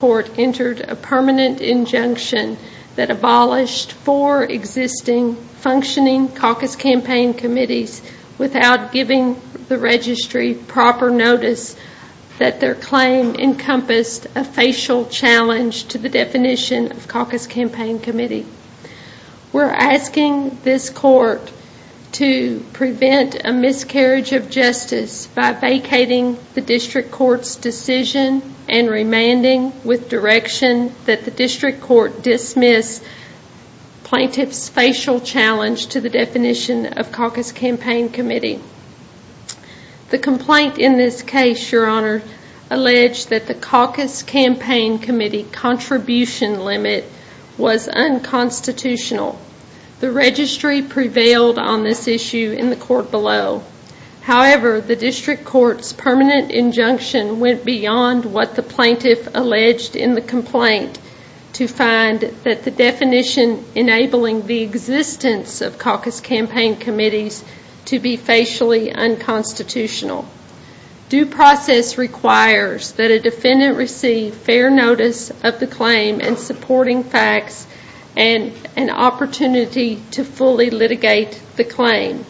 court entered a permanent injunction that abolished four existing functioning caucus campaign committees without giving the registry proper notice that their claim encompassed a facial challenge to the definition of caucus campaign committee. We're asking this court to prevent a miscarriage of justice by vacating the district court's decision and remanding with direction that the district court dismiss plaintiff's facial challenge to the definition of caucus campaign committee. The complaint in this case, your honor, alleged that the caucus campaign committee contribution limit was unconstitutional. The registry prevailed on this issue in the court below. However, the district court's permanent injunction went beyond what the plaintiff alleged in the complaint to find that the definition enabling the existence of caucus campaign committees to be facially unconstitutional. Due process requires that a defendant receive fair notice of the claim and supporting facts and an opportunity to fully litigate the claim.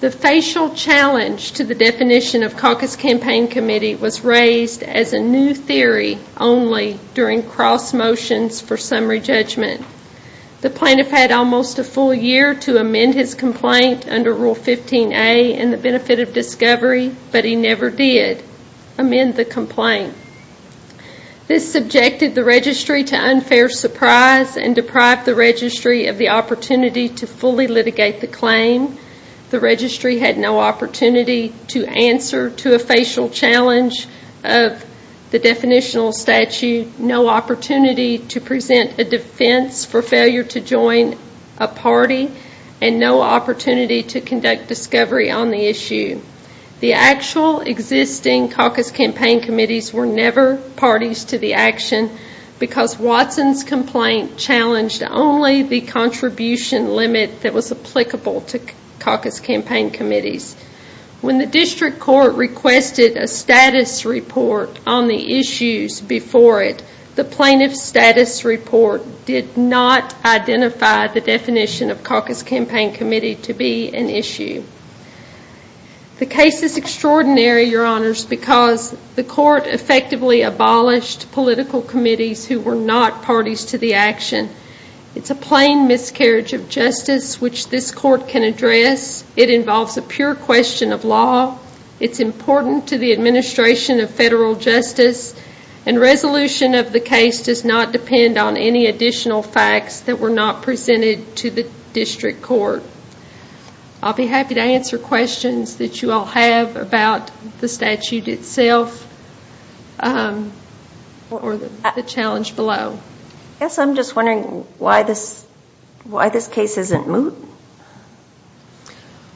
The facial challenge to the definition of caucus campaign committee was raised as a new theory only during cross motions for summary judgment. The plaintiff had almost a full year to amend his complaint under Rule 15a in the benefit of discovery, but he never did amend the complaint. This subjected the registry to unfair surprise and deprived the registry of the opportunity to fully litigate the claim. The registry had no opportunity to answer to a facial challenge of the definitional statute, no opportunity to present a defense for failure to join a party, and no opportunity to conduct discovery on the issue. The actual existing caucus campaign committees were never parties to the action because Watson's contribution limit that was applicable to caucus campaign committees. When the district court requested a status report on the issues before it, the plaintiff's status report did not identify the definition of caucus campaign committee to be an issue. The case is extraordinary, your honors, because the court effectively abolished political committees who were not parties to the action. It's a plain miscarriage of justice, which this court can address. It involves a pure question of law. It's important to the administration of federal justice. Resolution of the case does not depend on any additional facts that were not presented to the district court. I'll be happy to answer questions that you all have about the statute itself or the challenge below. I'm just wondering why this case isn't moot?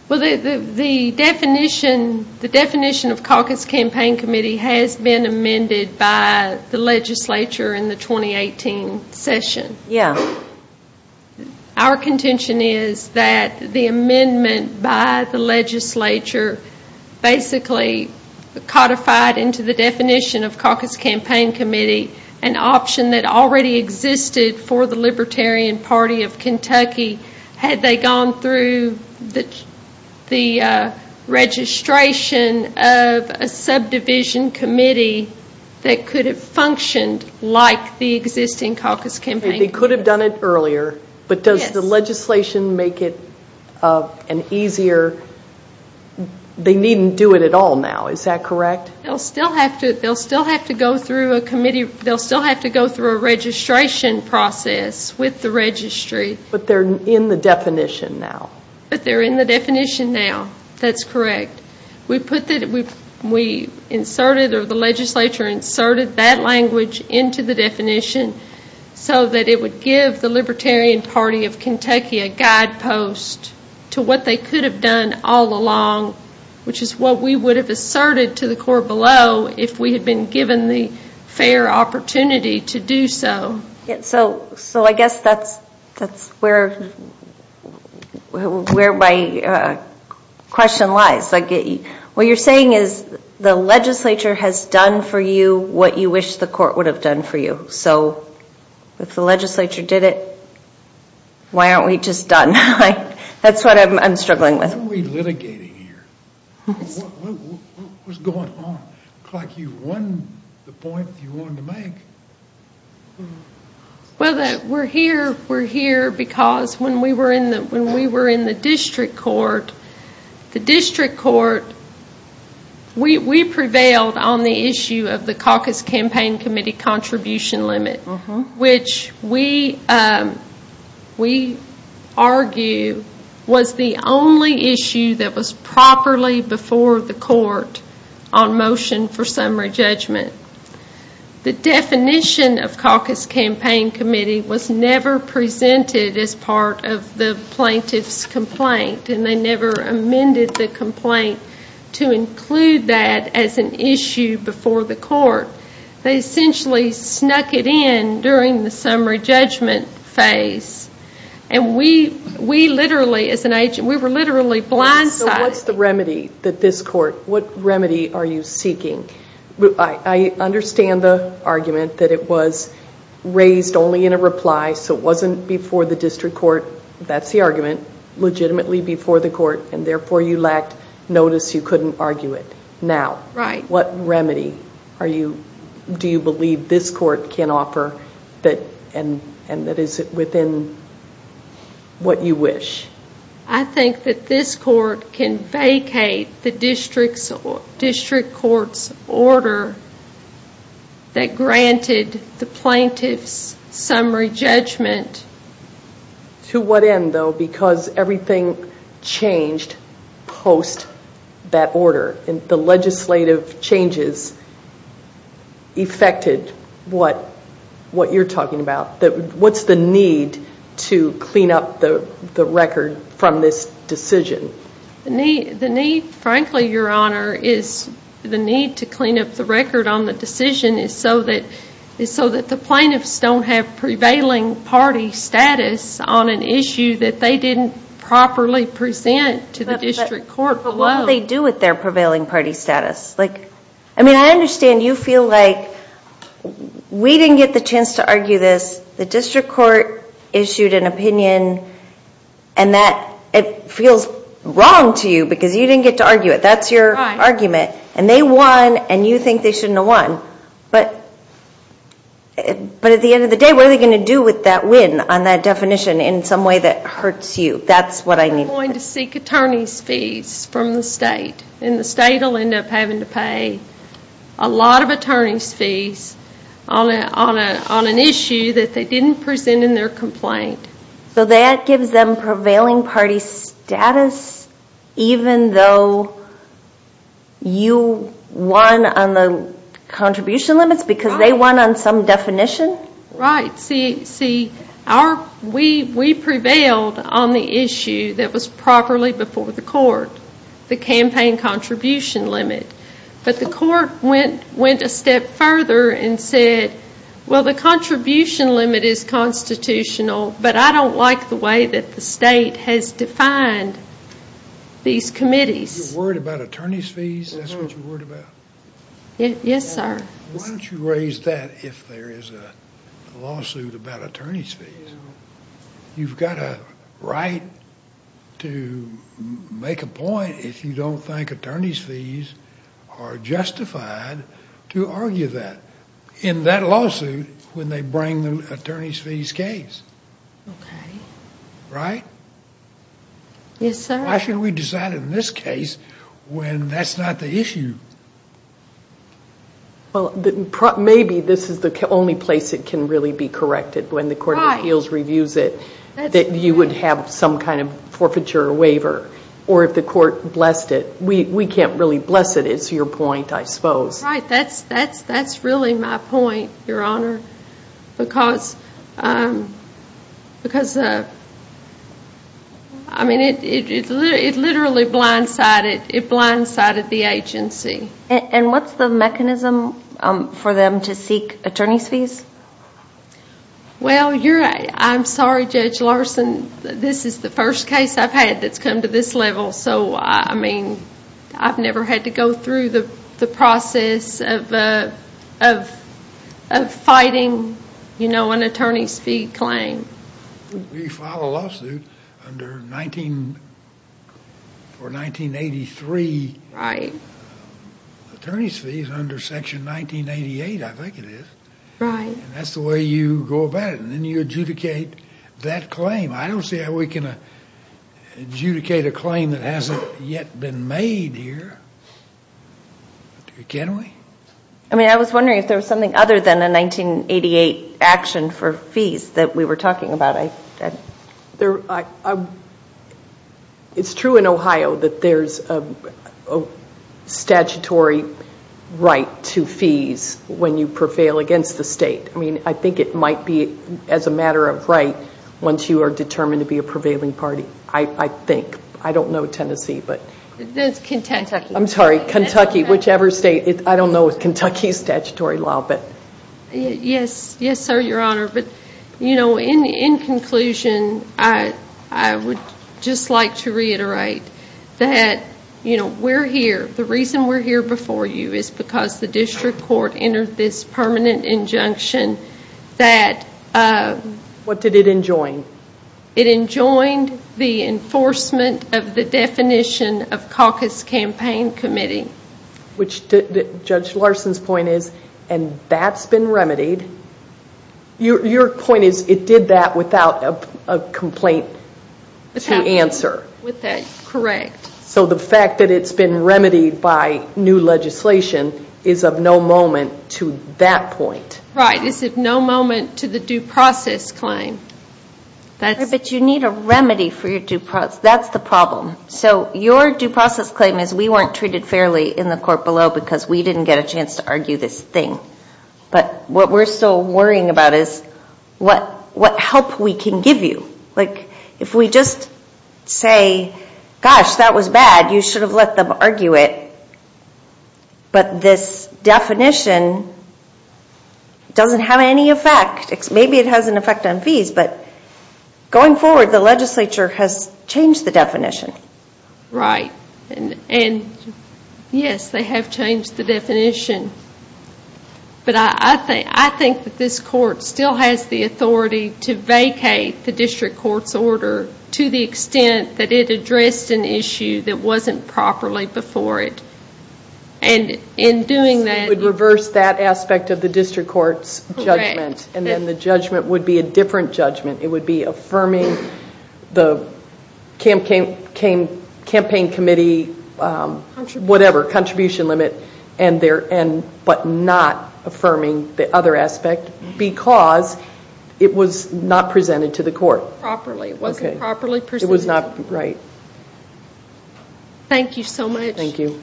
The definition of caucus campaign committee has been amended by the legislature in the 2018 session. Our contention is that the amendment by the legislature basically codified into the definition of caucus campaign committee an option that already existed for the Libertarian Party of Kentucky had they gone through the registration of a subdivision committee that could have functioned like the existing caucus campaign committee. They could have done it earlier, but does the legislation make it an easier... They needn't do it at all now, is that correct? They'll still have to go through a committee, they'll still have to go through a registration process with the registry. But they're in the definition now. But they're in the definition now, that's correct. We inserted, or the legislature inserted that language into the definition so that it would give the Libertarian Party of Kentucky a guidepost to what they could have done all along, which is what we would have asserted to the court below if we had been given the fair opportunity to do so. So I guess that's where my question lies. What you're saying is the legislature has done for you what you wish the court would have done for you. So if the legislature did it, why aren't we just done? That's what I'm struggling with. Why aren't we litigating here? What's going on? It looks like you've won the point that you wanted to make. Well, we're here because when we were in the district court, the district court, we prevailed on the issue of the Caucus Campaign Committee contribution limit, which we argue was the only issue that was properly before the court on motion for summary judgment. The definition of Caucus Campaign Committee was never presented as part of the plaintiff's complaint, and they never amended the complaint to include that as an issue before the court. They essentially snuck it in during the summary judgment phase, and we were literally blindsided. So what's the remedy that this court, what remedy are you seeking? I understand the argument that it was raised only in a reply, so it wasn't before the district court. That's the argument, legitimately before the court, and therefore you lacked notice. You couldn't argue it now. What remedy do you believe this court can offer and that is within what you wish? I think that this court can vacate the district court's order that granted the plaintiff's summary judgment. To what end, though? Because everything changed post that order, and the legislative changes affected what you're talking about. What's the need to clean up the record from this decision? The need, frankly, Your Honor, is the need to clean up the record on the decision is so that the plaintiffs don't have prevailing party status on an issue that they didn't properly present to the district court below. But what do they do with their prevailing party status? I mean, I understand you feel like we didn't get the chance to argue this. The district court issued an opinion, and it feels wrong to you because you didn't get to argue it. That's your argument, and they won, and you think they shouldn't have won. But at the end of the day, what are they going to do with that win on that definition in some way that hurts you? That's what I need to know. They're going to seek attorney's fees from the state, and the state will end up having to pay a lot of attorney's fees on an issue that they didn't present in their complaint. So that gives them prevailing party status even though you won on the contribution limits because they won on some definition? Right, see, we prevailed on the issue that was properly before the court, the campaign contribution limit. But the court went a step further and said, well, the contribution limit is constitutional, but I don't like the way that the state has defined these committees. You're worried about attorney's fees? That's what you're worried about? Yes, sir. Why don't you raise that if there is a lawsuit about attorney's fees? You've got a right to make a point if you don't think attorney's fees are justified to argue that in that lawsuit when they bring the attorney's fees case, right? Yes, sir. Why should we decide in this case when that's not the issue? Maybe this is the only place it can really be corrected when the court of appeals reviews it that you would have some kind of forfeiture waiver, or if the court blessed it. We can't really bless it. It's your point, I suppose. Right, that's really my point, Your Honor, because it literally blindsided the agency. And what's the mechanism for them to seek attorney's fees? Well, I'm sorry, Judge Larson. This is the first case I've had that's come to this level, so I mean, I've never had to go through the process of fighting an attorney's fee claim. You file a lawsuit for 1983 attorney's fees under Section 1988, I think it is. That's the way you go about it, and then you adjudicate that claim. I don't see how we can adjudicate a claim that hasn't yet been made here. Can we? I mean, I was wondering if there was something other than a 1988 action for fees that we were talking about. It's true in Ohio that there's a statutory right to fees when you prevail against the state. I think it might be as a matter of right once you are determined to be a prevailing party, I think. I don't know Tennessee, but... That's Kentucky. I'm sorry, Kentucky, whichever state. I don't know if Kentucky is statutory law, but... Yes, sir, Your Honor, but in conclusion, I would just like to reiterate that we're here. The reason we're here before you is because the district court entered this permanent injunction that... What did it enjoin? It enjoined the enforcement of the definition of caucus campaign committee. Judge Larson's point is, and that's been remedied. Your point is it did that without a complaint to answer. With that, correct. The fact that it's been remedied by new legislation is of no moment to that point. Right, it's of no moment to the due process claim. You need a remedy for your due process. That's the problem. Your due process claim is we weren't treated fairly in the court below because we didn't get a chance to argue this thing. What we're still worrying about is what help we can give you. If we just say, gosh, that was bad, you should have let them argue it, but this definition doesn't have any effect. Maybe it has an effect on fees, but going forward, the legislature has changed the definition. Yes, they have changed the definition, but I think that this court still has the authority to vacate the district court's order to the extent that it addressed an issue that wasn't properly before it. In doing that... It would reverse that aspect of the district court's judgment, and then the judgment would be a different judgment. It would be affirming the campaign committee, whatever, contribution limit, but not affirming the other aspect because it was not presented to the court. Properly. It wasn't properly presented. It was not, right. Thank you so much. Thank you.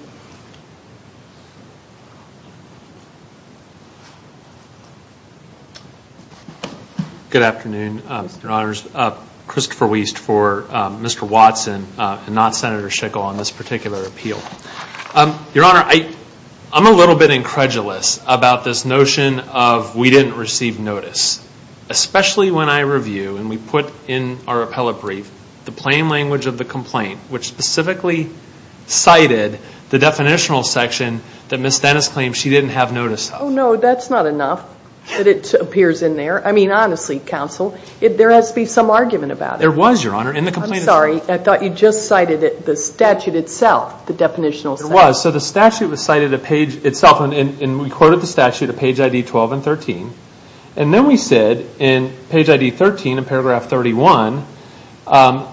Good afternoon, Your Honors. Christopher Wiest for Mr. Watson, and not Senator Schickel on this particular appeal. Your Honor, I'm a little bit incredulous about this notion of we didn't receive notice, especially when I review, and we put in our appellate brief, the plain language of the complaint, which specifically cited the definitional section that Ms. Dennis claims she didn't have notice of. Oh, no, that's not enough that it appears in there. I mean, honestly, counsel, there has to be some argument about it. There was, Your Honor, in the complaint. I'm sorry, I thought you just cited the statute itself, the definitional section. It was. So the statute was cited itself, and we quoted the statute at page ID 12 and 13, and then we said in page ID 13 in paragraph 31, KRS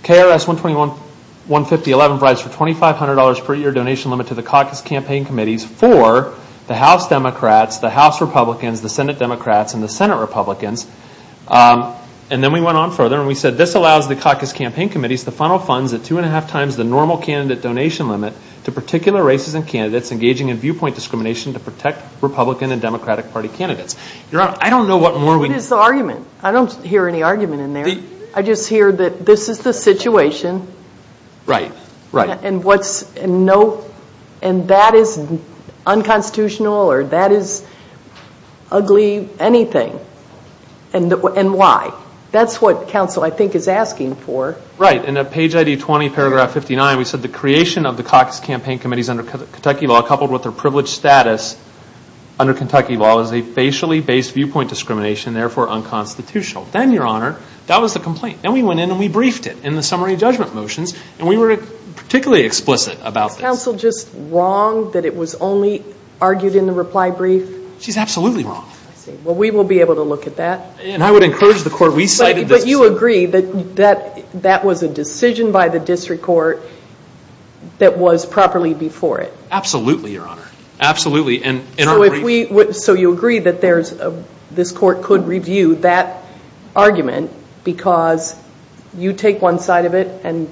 120.150.11 provides for $2,500 per year donation limit to the caucus campaign committees for the House Democrats, the House Republicans, the Senate Democrats, and the Senate Republicans, and then we went on further and we said this allows the caucus campaign committees to funnel funds at two-and-a-half times the normal candidate donation limit to particular races and candidates engaging in viewpoint discrimination to protect Republican and Democratic Party candidates. Your Honor, I don't know what more we can. What is the argument? I don't hear any argument in there. I just hear that this is the situation, and that is unconstitutional, or that is ugly anything, and why? That's what counsel, I think, is asking for. Right, and at page ID 20, paragraph 59, we said the creation of the caucus campaign committees under Kentucky law coupled with their privileged status under Kentucky law is a facially-based viewpoint discrimination, therefore unconstitutional. Then Your Honor, that was the complaint, and we went in and we briefed it in the summary judgment motions, and we were particularly explicit about this. Is counsel just wrong that it was only argued in the reply brief? She's absolutely wrong. I see. Well, we will be able to look at that. I would encourage the court. We cited this. But you agree that that was a decision by the district court that was properly before it? Absolutely, Your Honor. Absolutely. So you agree that this court could review that argument because you take one side of it, and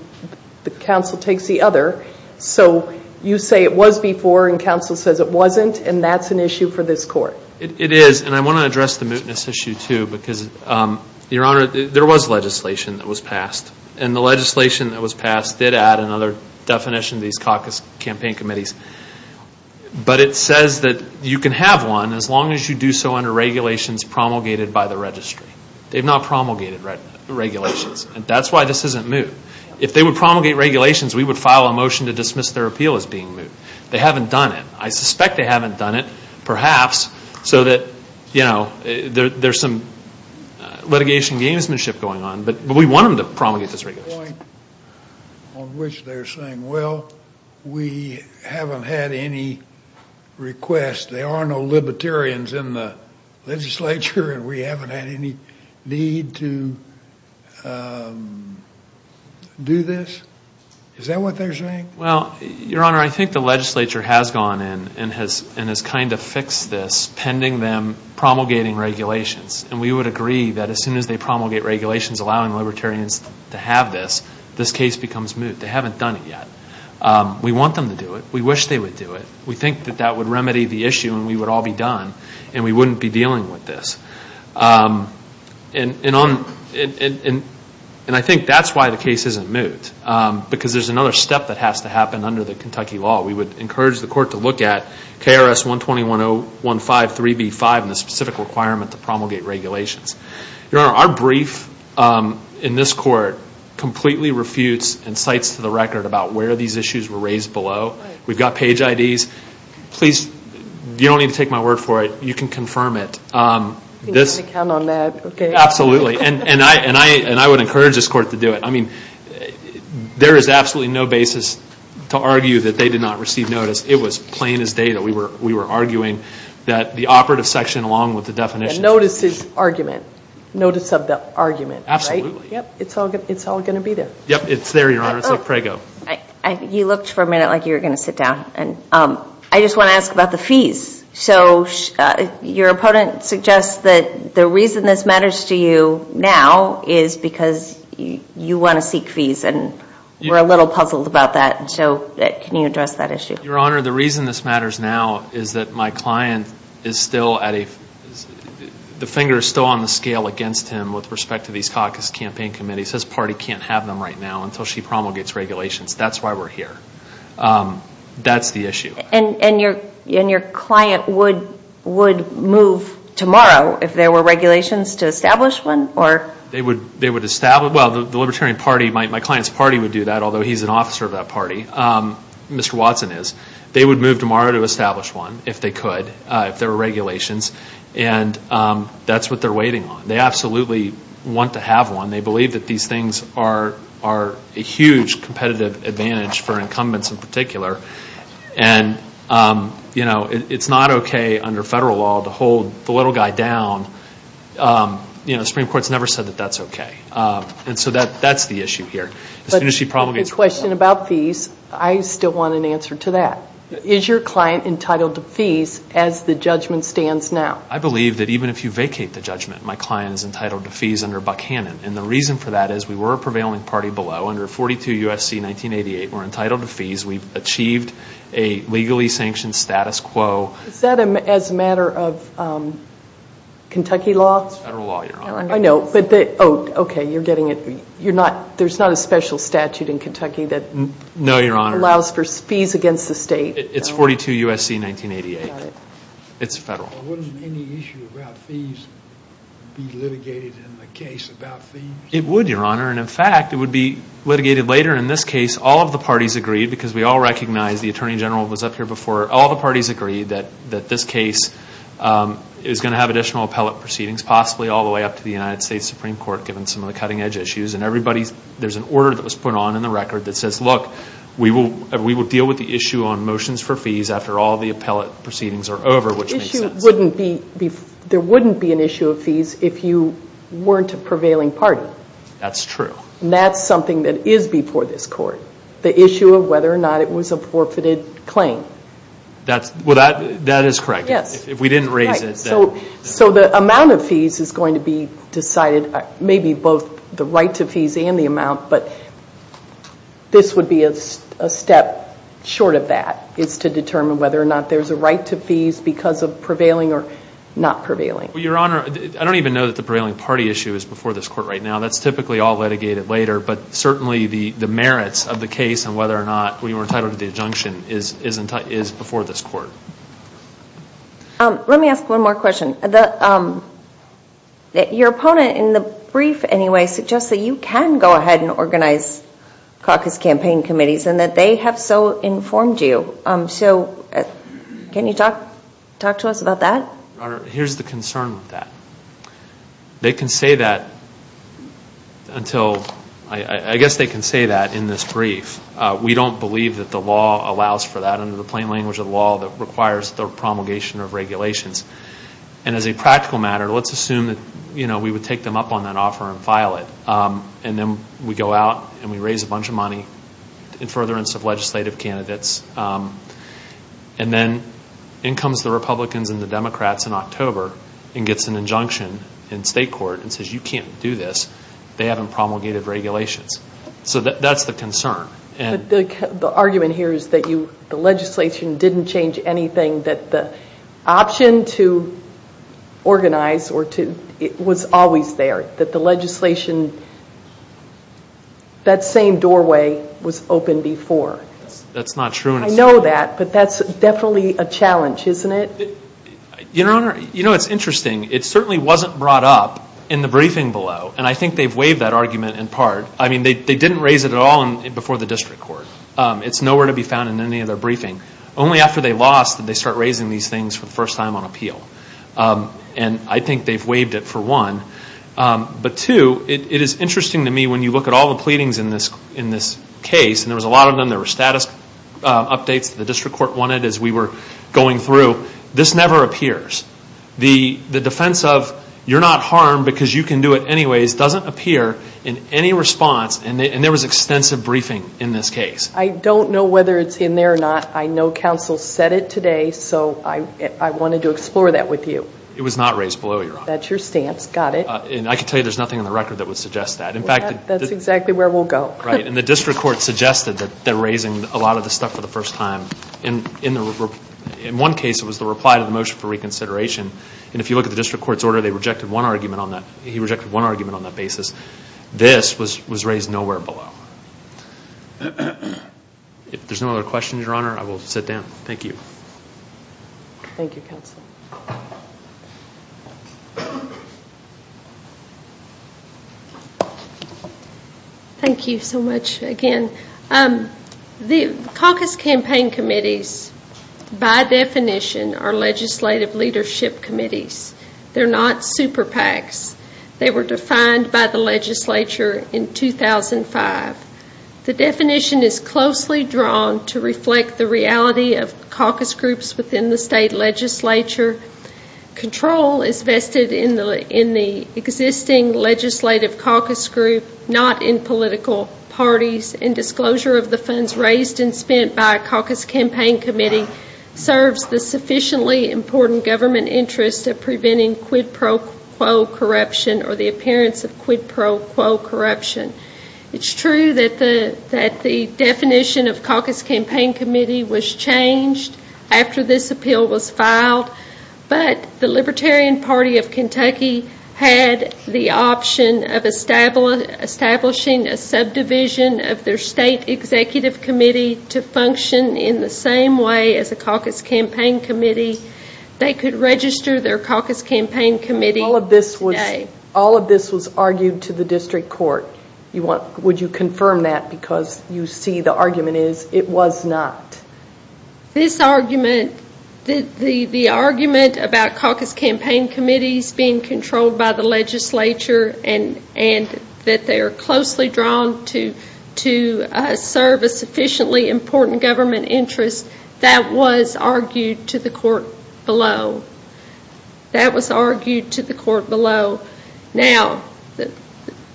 the counsel takes the other, so you say it was before, and counsel says it wasn't, and that's an issue for this court. It is, and I want to address the mootness issue too because, Your Honor, there was legislation that was passed, and the legislation that was passed did add another definition to these caucus campaign committees, but it says that you can have one as long as you do so under regulations promulgated by the registry. They've not promulgated regulations, and that's why this isn't moot. If they would promulgate regulations, we would file a motion to dismiss their appeal as being moot. They haven't done it. I suspect they haven't done it, perhaps, so that, you know, there's some litigation gamesmanship going on, but we want them to promulgate this regulation. There's a point on which they're saying, well, we haven't had any requests. There are no libertarians in the legislature, and we haven't had any need to do this. Is that what they're saying? Well, Your Honor, I think the legislature has gone in and has kind of fixed this, pending them promulgating regulations, and we would agree that as soon as they promulgate regulations allowing libertarians to have this, this case becomes moot. They haven't done it yet. We want them to do it. We wish they would do it. We think that that would remedy the issue and we would all be done, and we wouldn't be dealing with this, and I think that's why the case isn't moot because there's another step that has to happen under the Kentucky law. We would encourage the court to look at KRS 120.015.3b.5 and the specific requirement to promulgate regulations. Your Honor, our brief in this court completely refutes and cites to the record about where these issues were raised below. We've got page IDs. Please, you don't need to take my word for it. You can confirm it. You're going to count on that, okay. Absolutely, and I would encourage this court to do it. I mean, there is absolutely no basis to argue that they did not receive notice. It was plain as day that we were arguing that the operative section along with the definitions. Notice is argument. Notice of the argument. Right? Absolutely. Yep, it's all going to be there. Yep, it's there, Your Honor. It's like Prego. You looked for a minute like you were going to sit down, and I just want to ask about the fees. So, your opponent suggests that the reason this matters to you now is because you want to seek fees, and we're a little puzzled about that, so can you address that issue? Your Honor, the reason this matters now is that my client is still at a, the finger is still on the scale against him with respect to these caucus campaign committees. His party can't have them right now until she promulgates regulations. That's why we're here. That's the issue. And your client would move tomorrow if there were regulations to establish one? They would establish, well, the Libertarian Party, my client's party would do that, although he's an officer of that party, Mr. Watson is. They would move tomorrow to establish one if they could, if there were regulations, and that's what they're waiting on. They absolutely want to have one. They believe that these things are a huge competitive advantage for incumbents in particular, and, you know, it's not okay under federal law to hold the little guy down. You know, the Supreme Court's never said that that's okay, and so that's the issue here. As soon as she promulgates... But the question about fees, I still want an answer to that. Is your client entitled to fees as the judgment stands now? I believe that even if you vacate the judgment, my client is entitled to fees under Buckhannon, and the reason for that is we were a prevailing party below, under 42 U.S.C. 1988, we're entitled to fees, we've achieved a legally sanctioned status quo. Is that as a matter of Kentucky law? It's federal law, Your Honor. I know, but, oh, okay, you're getting it, you're not, there's not a special statute in Kentucky that... No, Your Honor. ...allows for fees against the state. It's 42 U.S.C. 1988. Got it. It's federal. Wouldn't any issue about fees be litigated in the case about fees? It would, Your Honor, and in fact, it would be litigated later in this case, all of the parties agreed, because we all recognize, the Attorney General was up here before, all the parties agreed that this case is going to have additional appellate proceedings, possibly all the way up to the United States Supreme Court, given some of the cutting edge issues, and everybody's, there's an order that was put on in the record that says, look, we will deal with the issue on motions for fees after all the appellate proceedings are over, which makes sense. The issue wouldn't be, there wouldn't be an issue of fees if you weren't a prevailing party. That's true. And that's something that is before this court. The issue of whether or not it was a forfeited claim. That's, well, that is correct. Yes. If we didn't raise it, then. Right. So the amount of fees is going to be decided, maybe both the right to fees and the amount, but this would be a step short of that, is to determine whether or not there's a right to fees because of prevailing or not prevailing. Well, Your Honor, I don't even know that the prevailing party issue is before this court right now. That's typically all litigated later, but certainly the merits of the case and whether or not we were entitled to the injunction is before this court. Let me ask one more question. Your opponent in the brief, anyway, suggests that you can go ahead and organize caucus campaign committees and that they have so informed you. So can you talk to us about that? Your Honor, here's the concern with that. They can say that until, I guess they can say that in this brief. We don't believe that the law allows for that under the plain language of the law that requires the promulgation of regulations. And as a practical matter, let's assume that, you know, we would take them up on that offer and file it. And then we go out and we raise a bunch of money in furtherance of legislative candidates. And then in comes the Republicans and the Democrats in October and gets an injunction in state court and says, you can't do this. They haven't promulgated regulations. So that's the concern. The argument here is that the legislation didn't change anything, that the option to organize was always there, that the legislation, that same doorway was open before. That's not true. I know that, but that's definitely a challenge, isn't it? Your Honor, you know, it's interesting. It certainly wasn't brought up in the briefing below, and I think they've waived that argument in part. I mean, they didn't raise it at all before the district court. It's nowhere to be found in any of their briefing. Only after they lost did they start raising these things for the first time on appeal. And I think they've waived it for one. But two, it is interesting to me when you look at all the pleadings in this case, and there was a lot of them. There were status updates that the district court wanted as we were going through. This never appears. The defense of, you're not harmed because you can do it anyways, doesn't appear in any response. And there was extensive briefing in this case. I don't know whether it's in there or not. I know counsel said it today, so I wanted to explore that with you. It was not raised below, Your Honor. That's your stance. Got it. And I can tell you there's nothing in the record that would suggest that. In fact... That's exactly where we'll go. Right. And the district court suggested that they're raising a lot of this stuff for the first time. In one case, it was the reply to the motion for reconsideration. And if you look at the district court's order, they rejected one argument on that. He rejected one argument on that basis. This was raised nowhere below. If there's no other questions, Your Honor, I will sit down. Thank you. Thank you, counsel. Thank you. Thank you so much again. The caucus campaign committees, by definition, are legislative leadership committees. They're not super PACs. They were defined by the legislature in 2005. The definition is closely drawn to reflect the reality of caucus groups within the state legislature. Control is vested in the existing legislative caucus group, not in political parties. And disclosure of the funds raised and spent by a caucus campaign committee serves the sufficiently important government interest of preventing quid pro quo corruption or the appearance of quid pro quo corruption. It's true that the definition of caucus campaign committee was changed after this appeal was filed. But the Libertarian Party of Kentucky had the option of establishing a subdivision of their state executive committee to function in the same way as a caucus campaign committee. They could register their caucus campaign committee. All of this was argued to the district court. Would you confirm that? Because you see the argument is it was not. This argument, the argument about caucus campaign committees being controlled by the legislature and that they are closely drawn to serve a sufficiently important government interest, that was argued to the court below. That was argued to the court below. Now,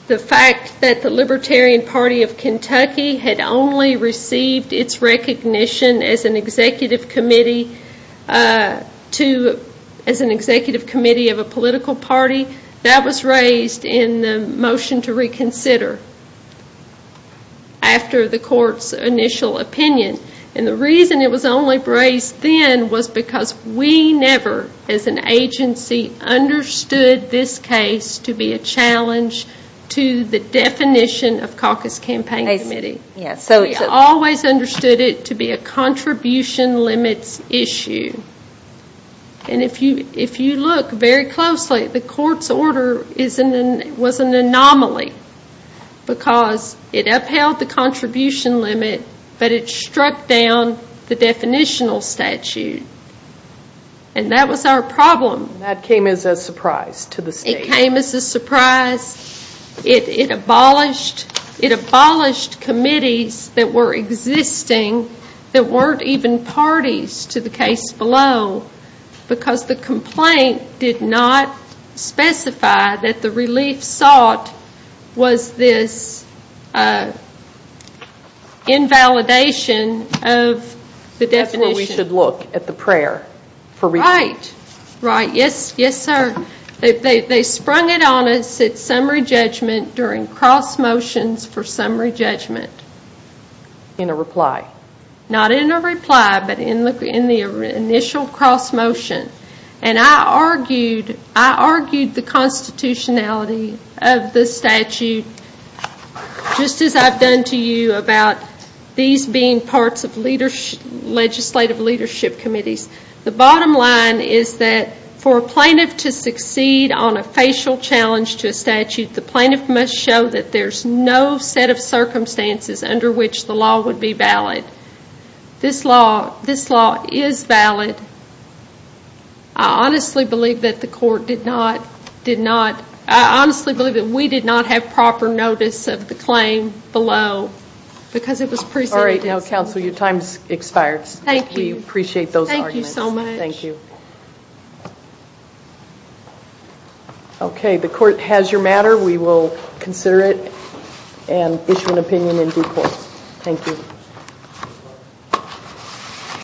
the fact that the Libertarian Party of Kentucky had only received its recognition as an executive committee of a political party, that was raised in the motion to reconsider after the court's initial opinion. The reason it was only raised then was because we never, as an agency, understood this case to be a challenge to the definition of caucus campaign committee. We always understood it to be a contribution limits issue. If you look very closely, the court's order was an anomaly because it upheld the contribution limit, but it struck down the definitional statute. That was our problem. That came as a surprise to the state. It came as a surprise. It abolished committees that were existing that weren't even parties to the case below because the complaint did not specify that the relief sought was this invalidation of the definition. That's where we should look, at the prayer for relief. Right. Yes, sir. They sprung it on us at summary judgment during cross motions for summary judgment. In a reply. Not in a reply, but in the initial cross motion. I argued the constitutionality of the statute just as I've done to you about these being parts of legislative leadership committees. The bottom line is that for a plaintiff to succeed on a facial challenge to a statute, the plaintiff must show that there's no set of circumstances under which the law would be valid. This law is valid. I honestly believe that the court did not, did not, I honestly believe that we did not have proper notice of the claim below because it was presented. Alright, now counsel, your time expires. Thank you. We appreciate those arguments. Thank you so much. Thank you. Okay. If the court has your matter, we will consider it and issue an opinion in due course. Thank you.